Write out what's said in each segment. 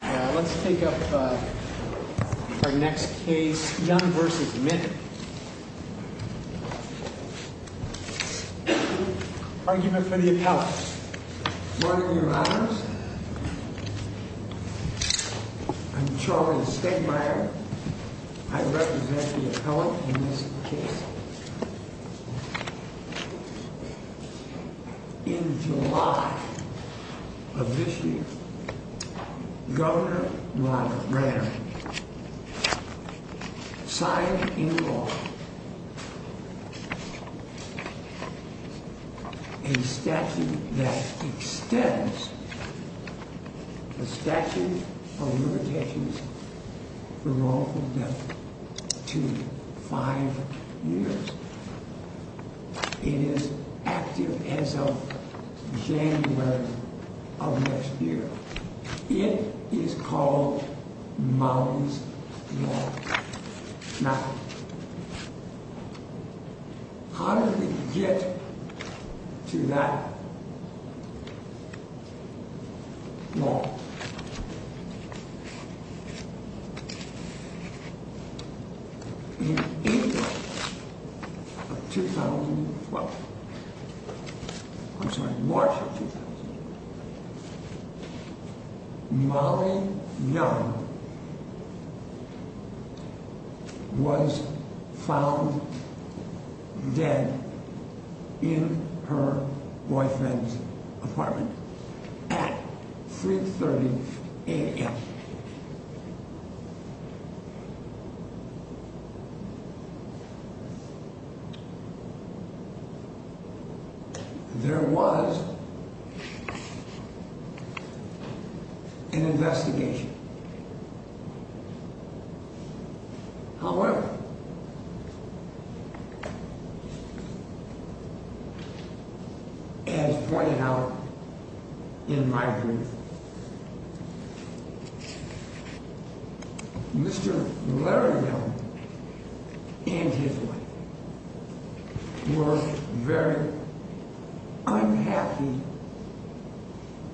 Let's take up our next case, Young v. Minton, argument for the appellant. Good morning, Your Honors. I'm Charlie Stegmaier. I represent the appellant in this case. In July of this year, Governor Ronald Reagan signed into law a statute that extends the statute of limitations for wrongful death to five years. It is active as of January of next year. It is called Molly's Law. Now, how did we get to that law? In April of 2012, I'm sorry, March of 2012, Molly Young was found dead in her boyfriend's apartment. At 3.30 a.m. There was an investigation. However, as pointed out in my brief, Mr. Larry Young and his wife were very unhappy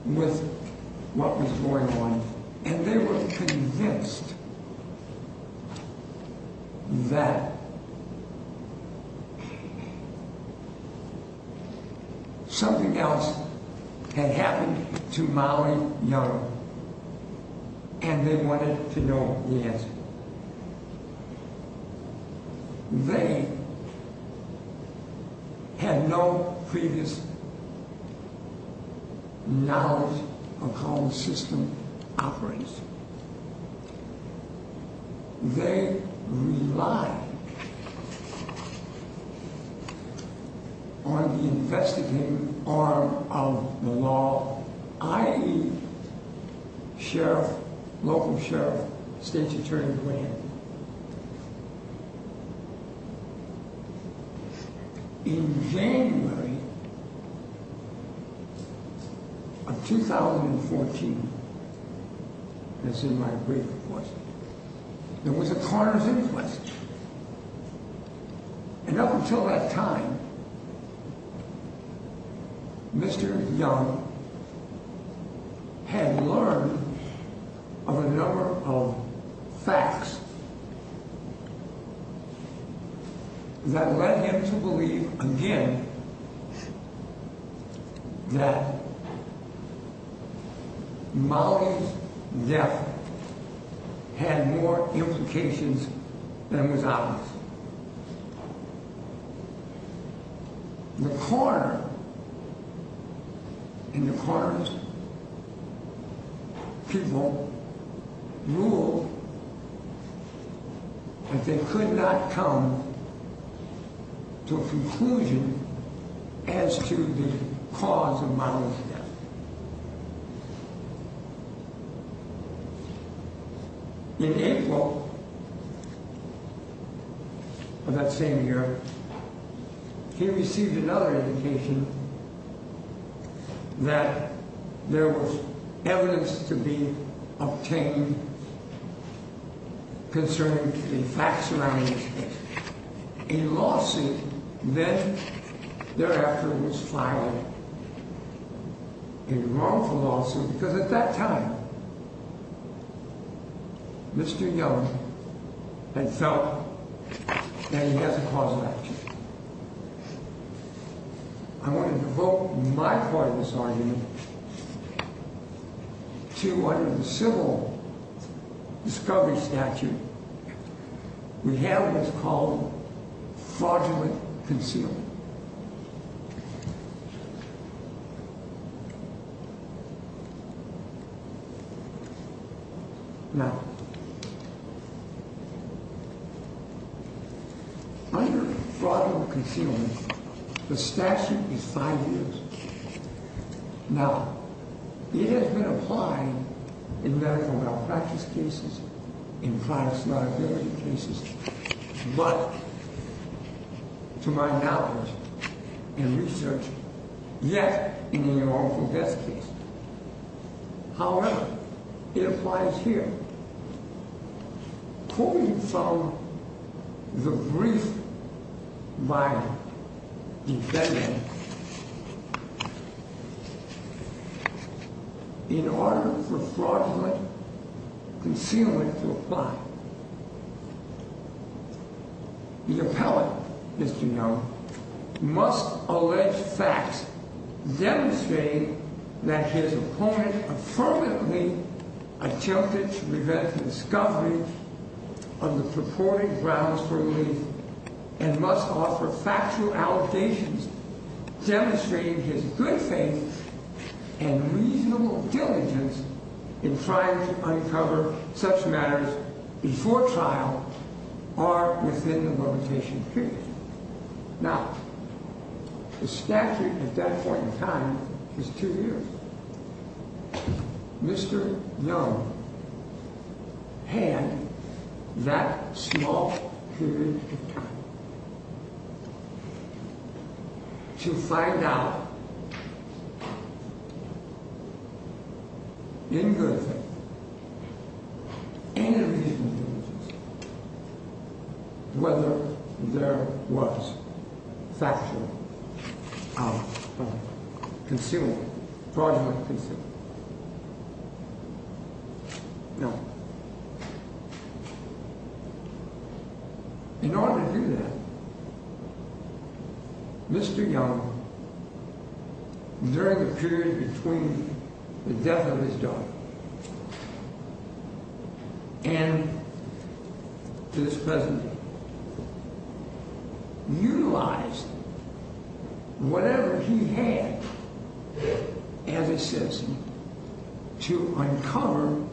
with what was going on. And they were convinced that something else had happened to Molly Young, and they wanted to know the answer. They had no previous knowledge of how the system operates. They relied on the investigative arm of the law, i.e., sheriff, local sheriff, state's attorney grant. In January of 2014, as in my brief, of course, there was a Carter's inquest. And up until that time, Mr. Young had learned of a number of facts that led him to believe, again, that Molly's death had more implications than was obvious. In the corners, people ruled that they could not come to a conclusion as to the cause of Molly's death. In April of that same year, he received another indication that there was evidence to be obtained concerning the facts surrounding this case. A lawsuit then thereafter was filed, a wrongful lawsuit, because at that time, Mr. Young had felt that he had the cause of action. I want to devote my part of this argument to under the civil discovery statute, we have what's called fraudulent concealment. Now, under fraudulent concealment, the statute is five years. Now, it has been applied in medical malpractice cases, in crimes of liability cases, but to my knowledge and research, yet in a wrongful death case. However, it applies here, pulling from the brief by the defendant, in order for fraudulent concealment to apply, the appellate, Mr. Young, must allege facts demonstrating that his opponent affirmatively attempted to prevent the discovery of the purported grounds for belief, and must offer factual allegations demonstrating his good faith and reasonable diligence in trying to uncover such matters before trial or within the limitation period. Now, the statute at that point in time is two years. Mr. Young had that small period of time to find out, in good faith, and in reasonable diligence, whether there was factual concealment, fraudulent concealment. Now, in order to do that, Mr. Young, during the period between the death of his daughter and his present day, utilized whatever he had as a citizen to uncover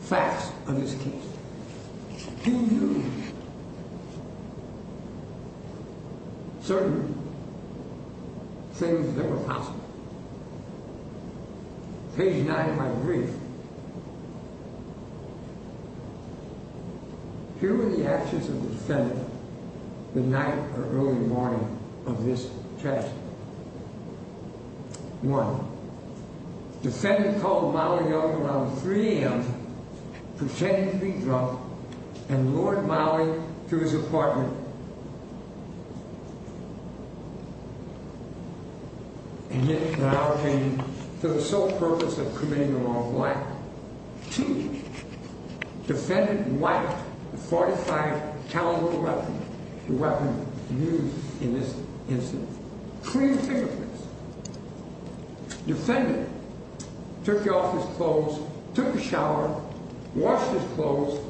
facts of his case. He used certain things that were possible. Page 9 of my brief. Here were the actions of the defendant the night or early morning of this tragedy. One, the defendant called Molly Young around 3 a.m., pretending to be drunk, and lured Molly to his apartment, and then barricaded for the sole purpose of committing a wrongful act. Two, the defendant wiped the .45 caliber weapon, the weapon used in this incident, clean fingerprints. The defendant took off his clothes, took a shower, washed his clothes,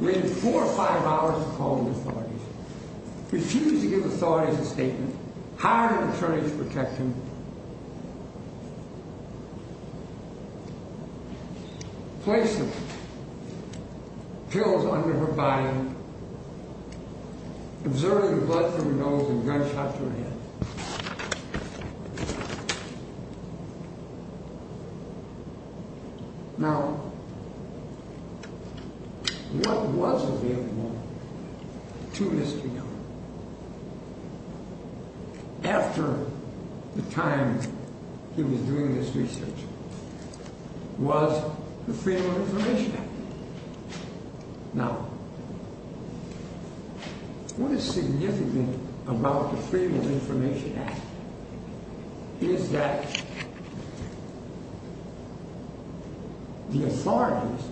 waited four or five hours to call the authorities, refused to give the authorities a statement, hired an attorney to protect him, placed the pills under her body, absorbed the blood from her nose, and gunshot to her head. Now, what was available to Mr. Young after the time he was doing this research was the Freedom of Information Act. Now, what is significant about the Freedom of Information Act is that the authorities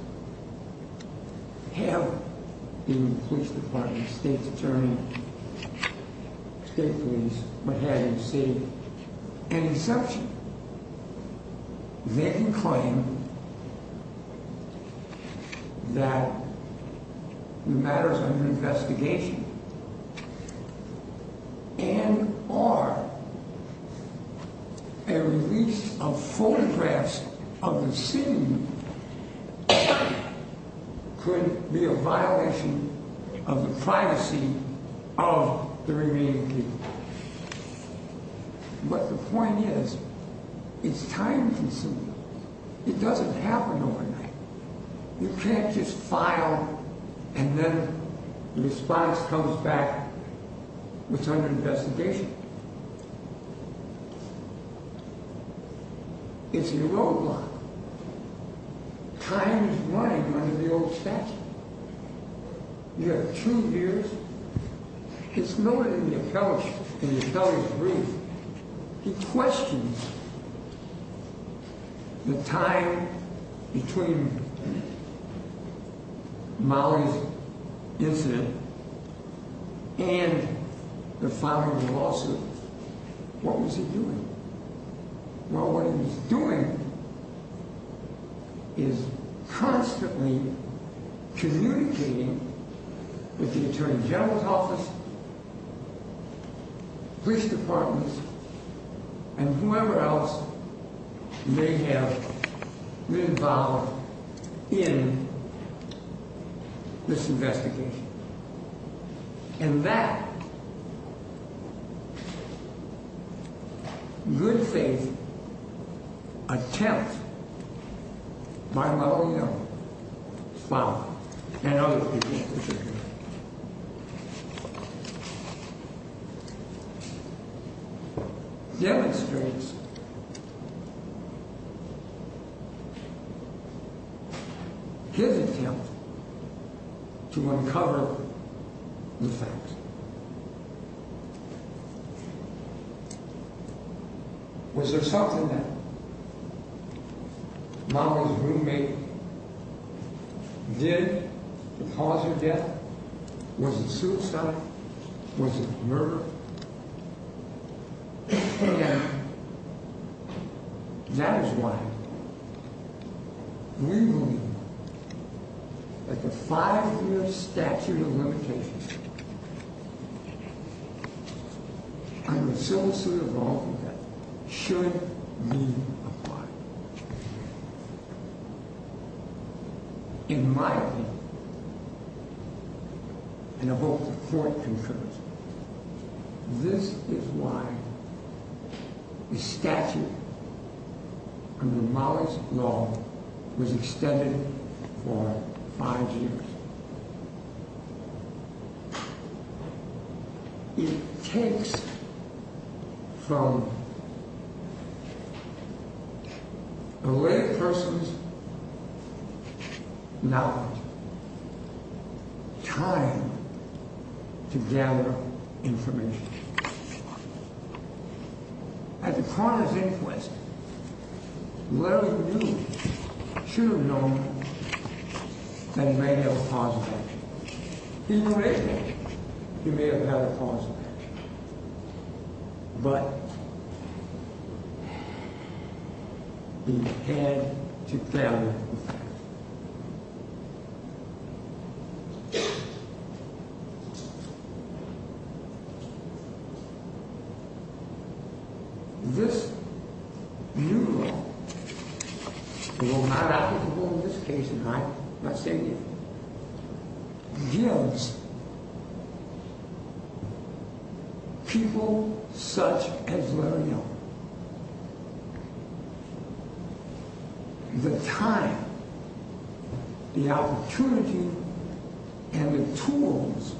have, including the police department, state attorney, state police, what have you, the city, an exception. They can claim that the matter is under investigation and or a release of photographs of the scene could be a violation of the privacy of the remaining people. But the point is, it's time consuming. It doesn't happen overnight. You can't just file and then the response comes back that it's under investigation. It's a roadblock. Time is money under the old statute. You have two years. It's noted in the appellate brief. He questions the time between Molly's incident and the filing of the lawsuit. What was he doing? Well, what he's doing is constantly communicating with the attorney general's office, police departments, and whoever else may have been involved in this investigation. And that good faith attempt by Molly Young, Bob and other people, demonstrates his attempt to uncover the truth. Was there something that Molly's roommate did that caused her death? Was it suicide? Was it murder? And that is why we believe that the five year statute of limitations should be in my opinion. This is why the statute under Molly's law was extended for five years. It takes from a layperson's knowledge time to gather information. At the coroner's inquest, whoever he knew should have known that he may have had a cause of death. He may have had a cause of death, but he had to clarify the fact. This new law will not applicable in this case in my opinion, gives people such as Larry Young the time, the opportunity, and the tools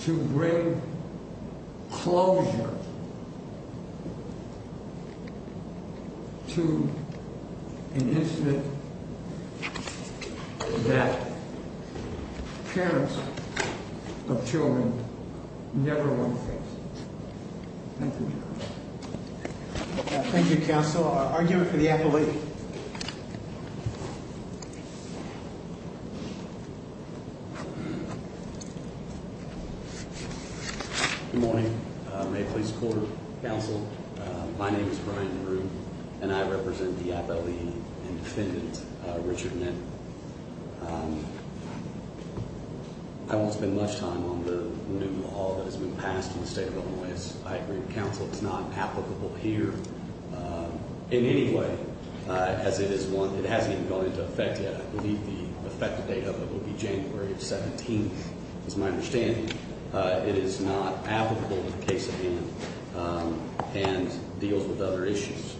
to bring closure to an incident that parents of children know. Thank you. Thank you, counsel. I'll argue it for the appellee. Good morning. May it please the court, counsel. My name is Brian Rue and I represent the appellee and defendant, Richard Nett. I won't spend much time on the new law that has been passed in the state of Illinois. I agree with counsel, it's not applicable here in any way. It hasn't even gone into effect yet. I believe the effective date of it will be January 17th. As my understanding, it is not applicable in the case at hand and deals with other issues.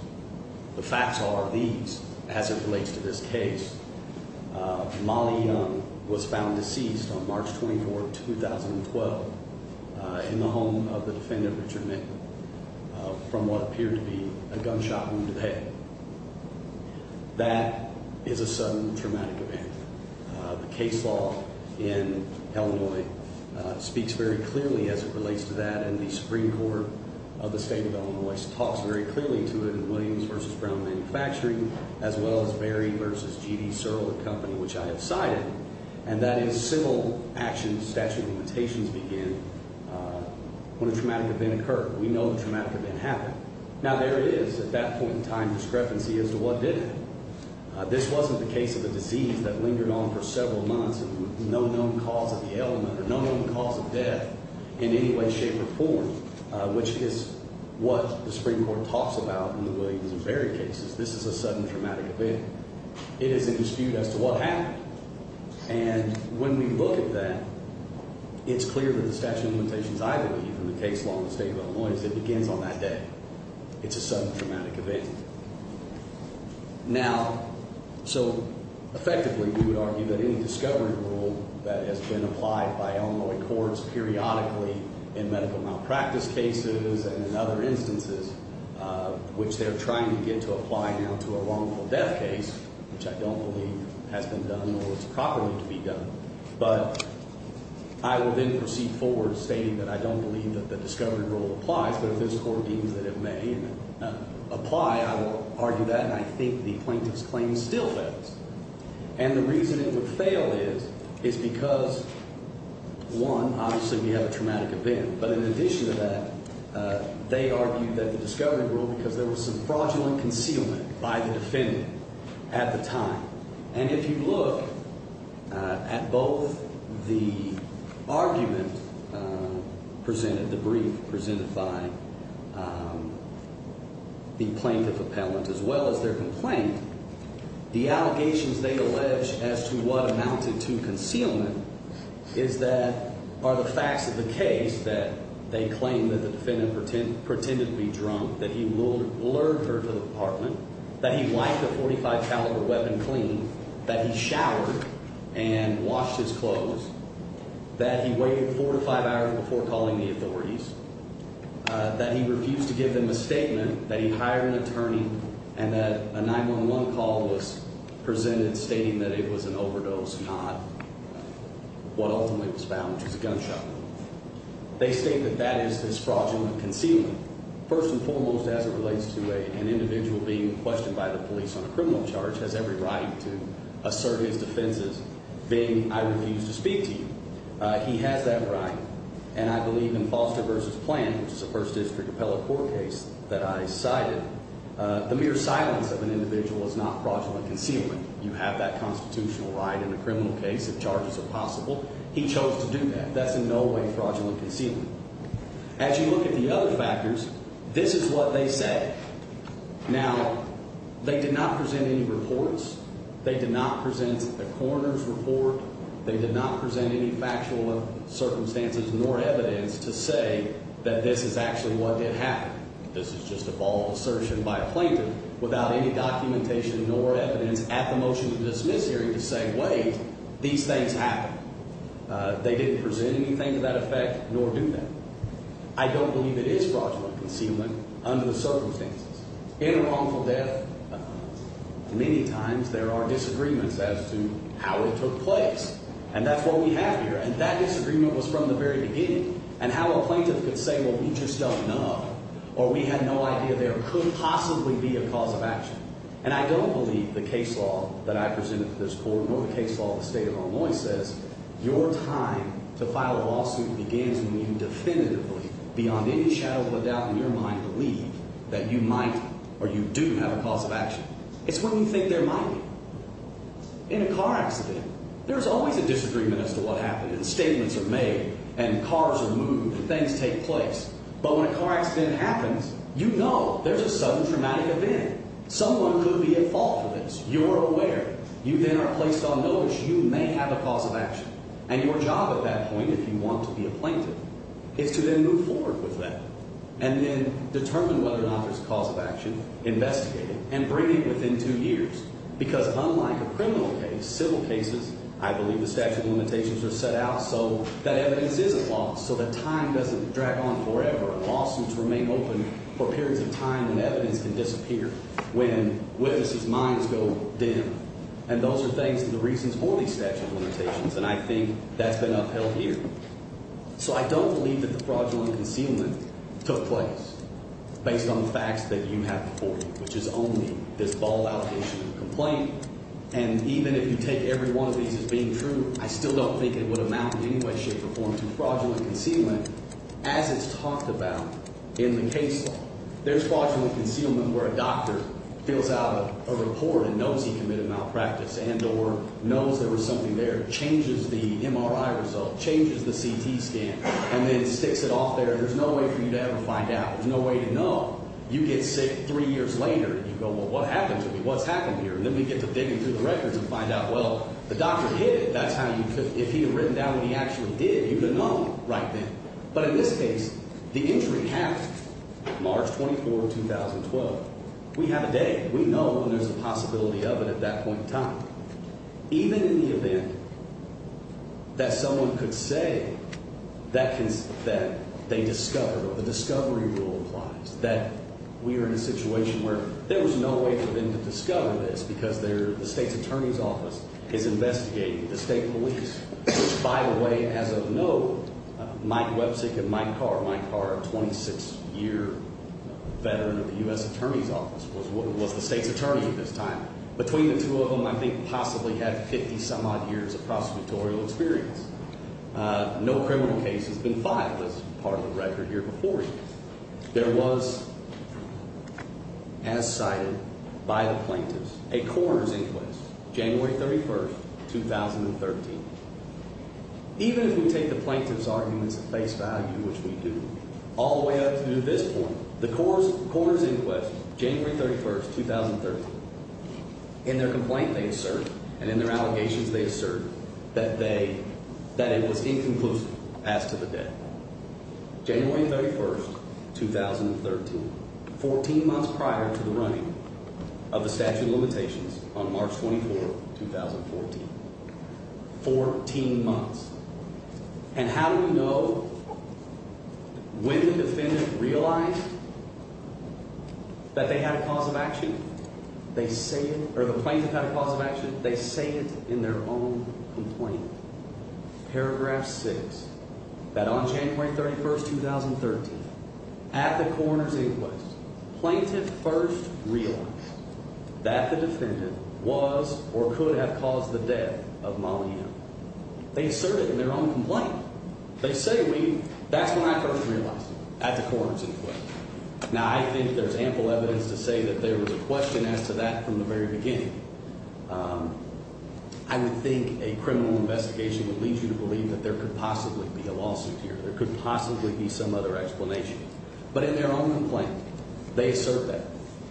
The facts are these as it relates to this case. Molly Young was found deceased on March 24th, 2012 in the home of the defendant, Richard Nett. From what appeared to be a gunshot wound to the head. That is a sudden traumatic event. The case law in Illinois speaks very clearly as it relates to that and the Supreme Court of the state of Illinois talks very clearly to it in Williams v. Brown Manufacturing as well as Berry v. G.D. Searle, the company which I have cited. And that is single action statute of limitations begin when a traumatic event occurred. We know the traumatic event happened. Now there is, at that point in time, discrepancy as to what did happen. This wasn't the case of a disease that lingered on for several months with no known cause of the ailment or no known cause of death in any way, shape, or form. Which is what the Supreme Court talks about in the Williams and Berry cases. This is a sudden traumatic event. It is in dispute as to what happened. And when we look at that, it's clear that the statute of limitations I believe in the case law in the state of Illinois is it begins on that day. It's a sudden traumatic event. Now, so effectively we would argue that any discovery rule that has been applied by Illinois courts periodically in medical malpractice cases and in other instances, which they're trying to get to apply now to a wrongful death case, which I don't believe has been done or is properly to be done. But I will then proceed forward stating that I don't believe that the discovery rule applies. But if this court deems that it may apply, I will argue that. And I think the plaintiff's claim still fails. And the reason it would fail is because, one, obviously we have a traumatic event. But in addition to that, they argued that the discovery rule, because there was some fraudulent concealment by the defendant at the time. And if you look at both the argument presented, the brief presented by the plaintiff appellant as well as their complaint, the allegations they allege as to what amounted to concealment is that are the facts of the case that they claim that the defendant pretended to be drunk, that he lured her to the apartment, that he wiped a .45 caliber weapon clean, that he showered and washed his clothes, that he waited four to five hours before calling the authorities, that he refused to give them a statement, that he hired an attorney, and that a 911 call was presented stating that it was an overdose, not what ultimately was found, which was a gunshot wound. They state that that is this fraudulent concealment. First and foremost, as it relates to an individual being questioned by the police on a criminal charge, has every right to assert his defenses being, I refuse to speak to you. He has that right. And I believe in Foster v. Plan, which is a First District appellate court case that I cited, the mere silence of an individual is not fraudulent concealment. You have that constitutional right in a criminal case if charges are possible. He chose to do that. That's in no way fraudulent concealment. As you look at the other factors, this is what they said. Now, they did not present any reports. They did not present a coroner's report. They did not present any factual circumstances nor evidence to say that this is actually what did happen. This is just a ball of assertion by a plaintiff without any documentation nor evidence at the motion to dismiss hearing to say, wait, these things happened. They didn't present anything to that effect, nor do they. I don't believe it is fraudulent concealment under the circumstances. In a wrongful death, many times there are disagreements as to how it took place. And that's what we have here. And that disagreement was from the very beginning. And how a plaintiff could say, well, we just don't know, or we had no idea there could possibly be a cause of action. And I don't believe the case law that I presented to this court nor the case law of the state of Illinois says your time to file a lawsuit begins when you definitively, beyond any shadow of a doubt in your mind, believe that you might or you do have a cause of action. It's when you think there might be. In a car accident, there's always a disagreement as to what happened. And statements are made, and cars are moved, and things take place. But when a car accident happens, you know there's a sudden traumatic event. Someone could be at fault for this. You're aware. You then are placed on notice. You may have a cause of action. And your job at that point, if you want to be a plaintiff, is to then move forward with that. And then determine whether or not there's a cause of action, investigate it, and bring it within two years. Because unlike a criminal case, civil cases, I believe the statute of limitations are set out so that evidence isn't lost, so that time doesn't drag on forever. And lawsuits remain open for periods of time when evidence can disappear, when witnesses' minds go dim. And those are things that are the reasons for these statute of limitations. And I think that's been upheld here. So I don't believe that the fraudulent concealment took place based on the facts that you have before you, which is only this ball-out issue of complaint. And even if you take every one of these as being true, I still don't think it would amount in any way, shape, or form to fraudulent concealment. As it's talked about in the case law, there's fraudulent concealment where a doctor fills out a report and knows he committed malpractice, and or knows there was something there, changes the MRI result, changes the CT scan, and then sticks it off there. There's no way for you to ever find out. There's no way to know. You get sick three years later, and you go, well, what happened to me? What's happened here? And then we get to digging through the records and find out, well, the doctor hid it. If he had written down what he actually did, you would have known right then. But in this case, the injury happened March 24, 2012. We have a day. We know when there's a possibility of it at that point in time. Even in the event that someone could say that they discovered, or the discovery rule applies, that we are in a situation where there was no way for them to discover this because the state's attorney's office is investigating. The state police, which, by the way, as of now, Mike Websick and Mike Carr, Mike Carr, a 26-year veteran of the U.S. Attorney's Office, was the state's attorney at this time. Between the two of them, I think, possibly had 50-some-odd years of prosecutorial experience. No criminal case has been filed as part of the record here before you. There was, as cited by the plaintiffs, a coroner's inquest, January 31, 2013. Even if we take the plaintiff's arguments at face value, which we do, all the way up to this point, the coroner's inquest, January 31, 2013, in their complaint they assert, and in their allegations they assert, that it was inconclusive as to the death. January 31, 2013, 14 months prior to the running of the statute of limitations on March 24, 2014. Fourteen months. And how do we know when the defendant realized that they had a cause of action? They say it, or the plaintiff had a cause of action, they say it in their own complaint. Paragraph 6, that on January 31, 2013, at the coroner's inquest, plaintiff first realized that the defendant was or could have caused the death of Molly Young. They assert it in their own complaint. They say, that's when I first realized it, at the coroner's inquest. Now, I think there's ample evidence to say that there was a question as to that from the very beginning. I would think a criminal investigation would lead you to believe that there could possibly be a lawsuit here. There could possibly be some other explanation. But in their own complaint, they assert that.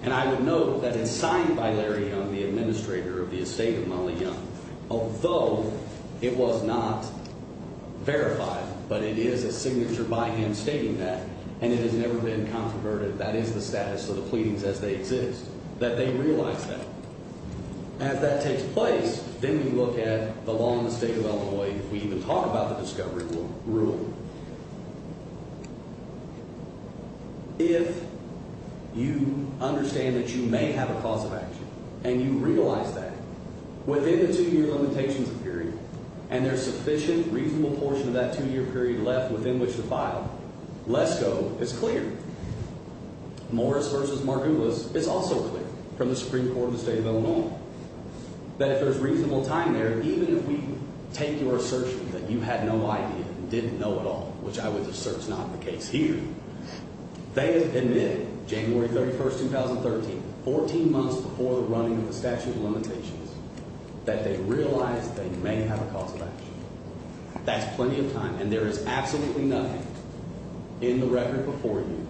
And I would note that it's signed by Larry Young, the administrator of the estate of Molly Young. Although it was not verified, but it is a signature by him stating that, and it has never been controverted, that is the status of the pleadings as they exist. That they realized that. As that takes place, then we look at the law in the state of Illinois. If we even talk about the discovery, we'll ruin it. If you understand that you may have a cause of action, and you realize that, within the two-year limitations period, and there's sufficient, reasonable portion of that two-year period left within which to file, LESCO is clear. Morris v. Margulis is also clear from the Supreme Court of the state of Illinois. That if there's reasonable time there, even if we take your assertion that you had no idea and didn't know at all, which I would assert is not the case here, they have admitted, January 31, 2013, 14 months before the running of the statute of limitations, that they realized that you may have a cause of action. That's plenty of time. And there is absolutely nothing in the record before you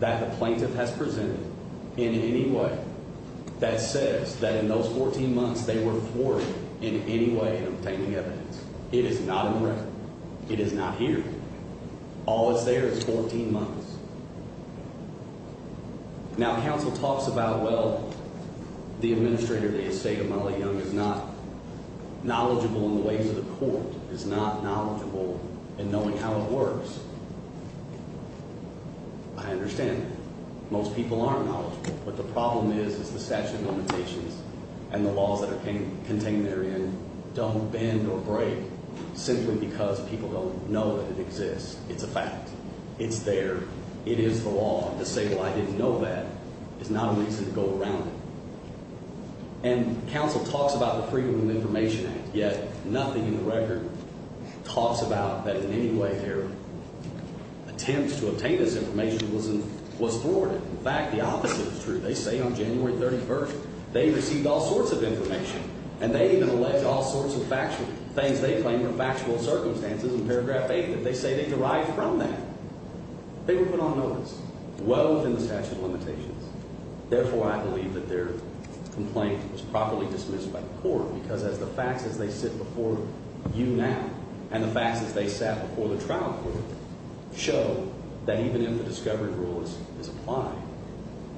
that the plaintiff has presented in any way that says that in those 14 months, they were forwarded in any way in obtaining evidence. It is not in the record. It is not here. All that's there is 14 months. Now, counsel talks about, well, the administrator of the estate of Molly Young is not knowledgeable in the ways of the court, is not knowledgeable in knowing how it works. I understand that. Most people aren't knowledgeable. What it is is the statute of limitations and the laws that are contained therein don't bend or break simply because people don't know that it exists. It's a fact. It's there. It is the law. To say, well, I didn't know that is not a reason to go around it. And counsel talks about the Freedom of Information Act, yet nothing in the record talks about that in any way their attempt to obtain this information was forwarded. In fact, the opposite is true. They say on January 31st, they received all sorts of information, and they even allege all sorts of things they claim are factual circumstances in paragraph 8. They say they derived from that. They were put on notice well within the statute of limitations. Therefore, I believe that their complaint was properly dismissed by the court because as the facts as they sit before you now and the facts as they sat before the trial court show that even if the discovery rule is applied,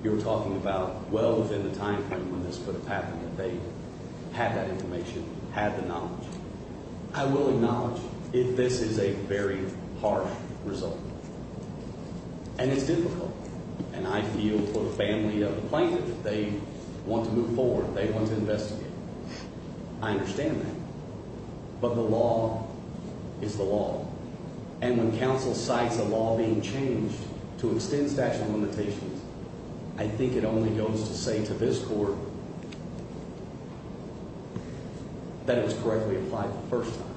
you're talking about well within the time frame when this could have happened that they had that information, had the knowledge. I will acknowledge if this is a very harsh result. And it's difficult. And I feel for the family of the plaintiff. They want to move forward. They want to investigate. I understand that. But the law is the law. And when counsel cites a law being changed to extend statute of limitations, I think it only goes to say to this court that it was correctly applied the first time.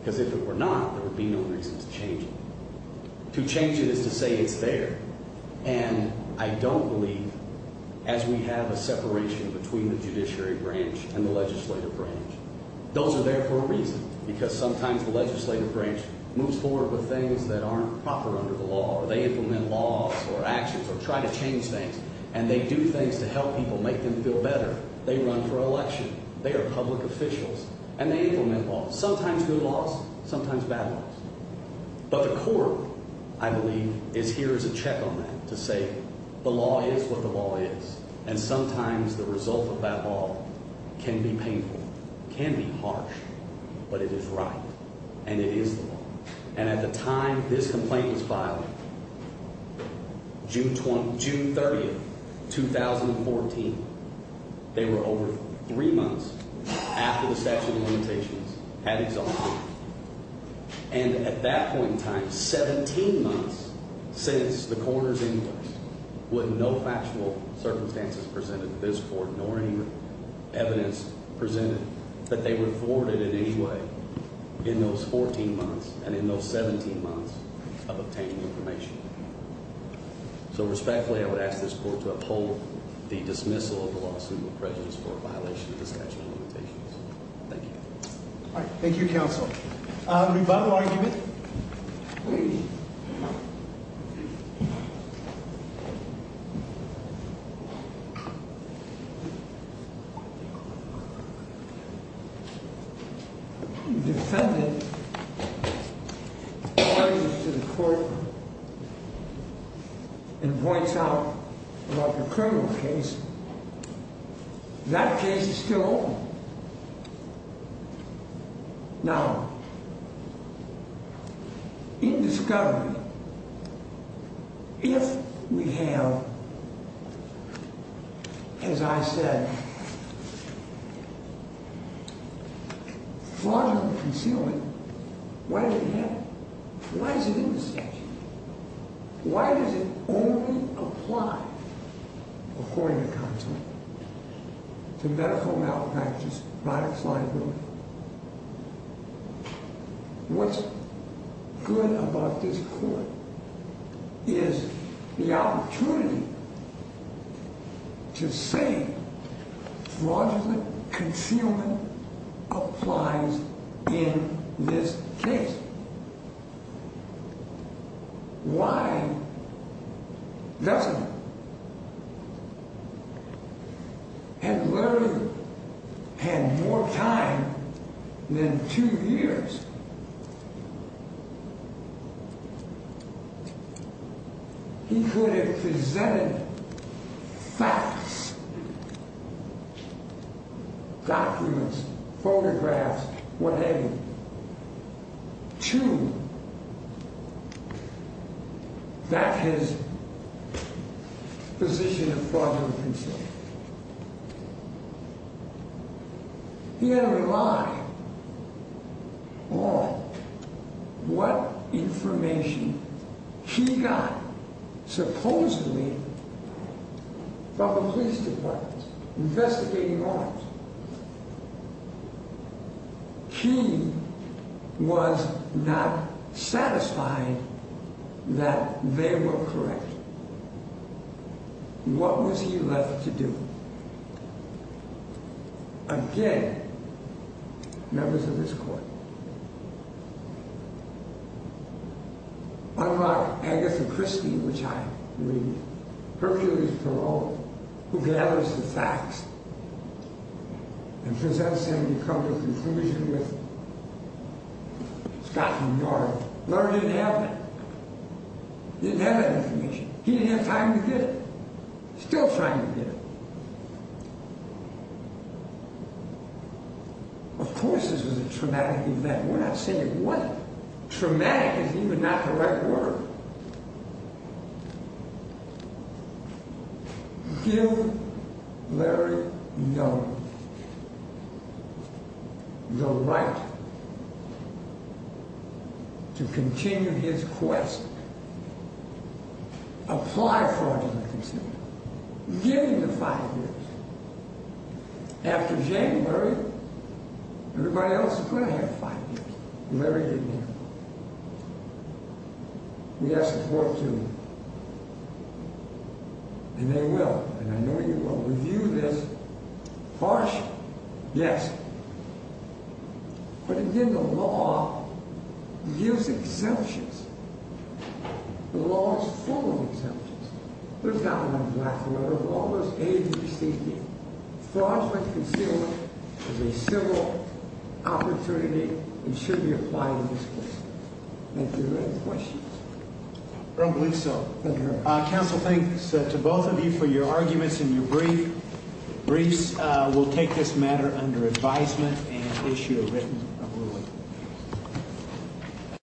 Because if it were not, there would be no reason to change it. To change it is to say it's there. And I don't believe, as we have a separation between the judiciary branch and the legislative branch, those are there for a reason. Because sometimes the legislative branch moves forward with things that aren't proper under the law or they implement laws or actions or try to change things and they do things to help people, make them feel better. They run for election. They are public officials. And they implement laws. Sometimes good laws. Sometimes bad laws. But the court, I believe, is here as a check on that to say the law is what the law is. And sometimes the result of that law can be painful. It can be harsh. But it is right. And it is the law. And at the time this complaint was filed, June 30, 2014, they were over three months after the statute of limitations had exalted. And at that point in time, 17 months since the coroner's inquest, with no factual circumstances presented to this court nor any evidence presented, that they were thwarted in any way in those 14 months and in those 17 months of obtaining information. So respectfully, I would ask this court to uphold the dismissal of the lawsuit with prejudice for a violation of the statute of limitations. Thank you. All right. Thank you, counsel. Any final argument? The defendant turns to the court and points out about the criminal case. That case is still open. Now, in this government, if we have, as I said, fraudulent concealment, why does it have it? Why is it in the statute? Why does it only apply, according to counsel, to medical malpractice by a client? What's good about this court is the opportunity to say fraudulent concealment applies in this case. Why doesn't it? And Larry had more time than two years. He could have presented facts, documents, photographs, whatever, to back his position of fraudulent concealment. He had to rely on what information he got, supposedly, from the police department, investigating arms. He was not satisfied that they were correct. What was he left to do? Again, members of this court, unlock Agatha Christie, which I believe is Hercules Perrault, who gathers the facts and presents them to come to a conclusion with Scott from York. Larry didn't have that. He didn't have that information. He didn't have time to get it. Still trying to get it. Of course this was a traumatic event. We're not saying it wasn't. Traumatic is even not the right word. Give Larry Young the right to continue his quest. Apply for fraudulent concealment. Give him the five years. After January, everybody else is going to have five years. Larry didn't have that. We asked the court to. And they will. And I know you will. Review this. Harsh? Yes. But again, the law gives exemptions. The law is full of exemptions. There's not one black and white. There's all those A, B, C, D. Fraudulent concealment is a civil opportunity. It should be applied in this case. Thank you. Any questions? I don't believe so. Counsel, thanks to both of you for your arguments and your briefs. We'll take this matter under advisement and issue a written ruling.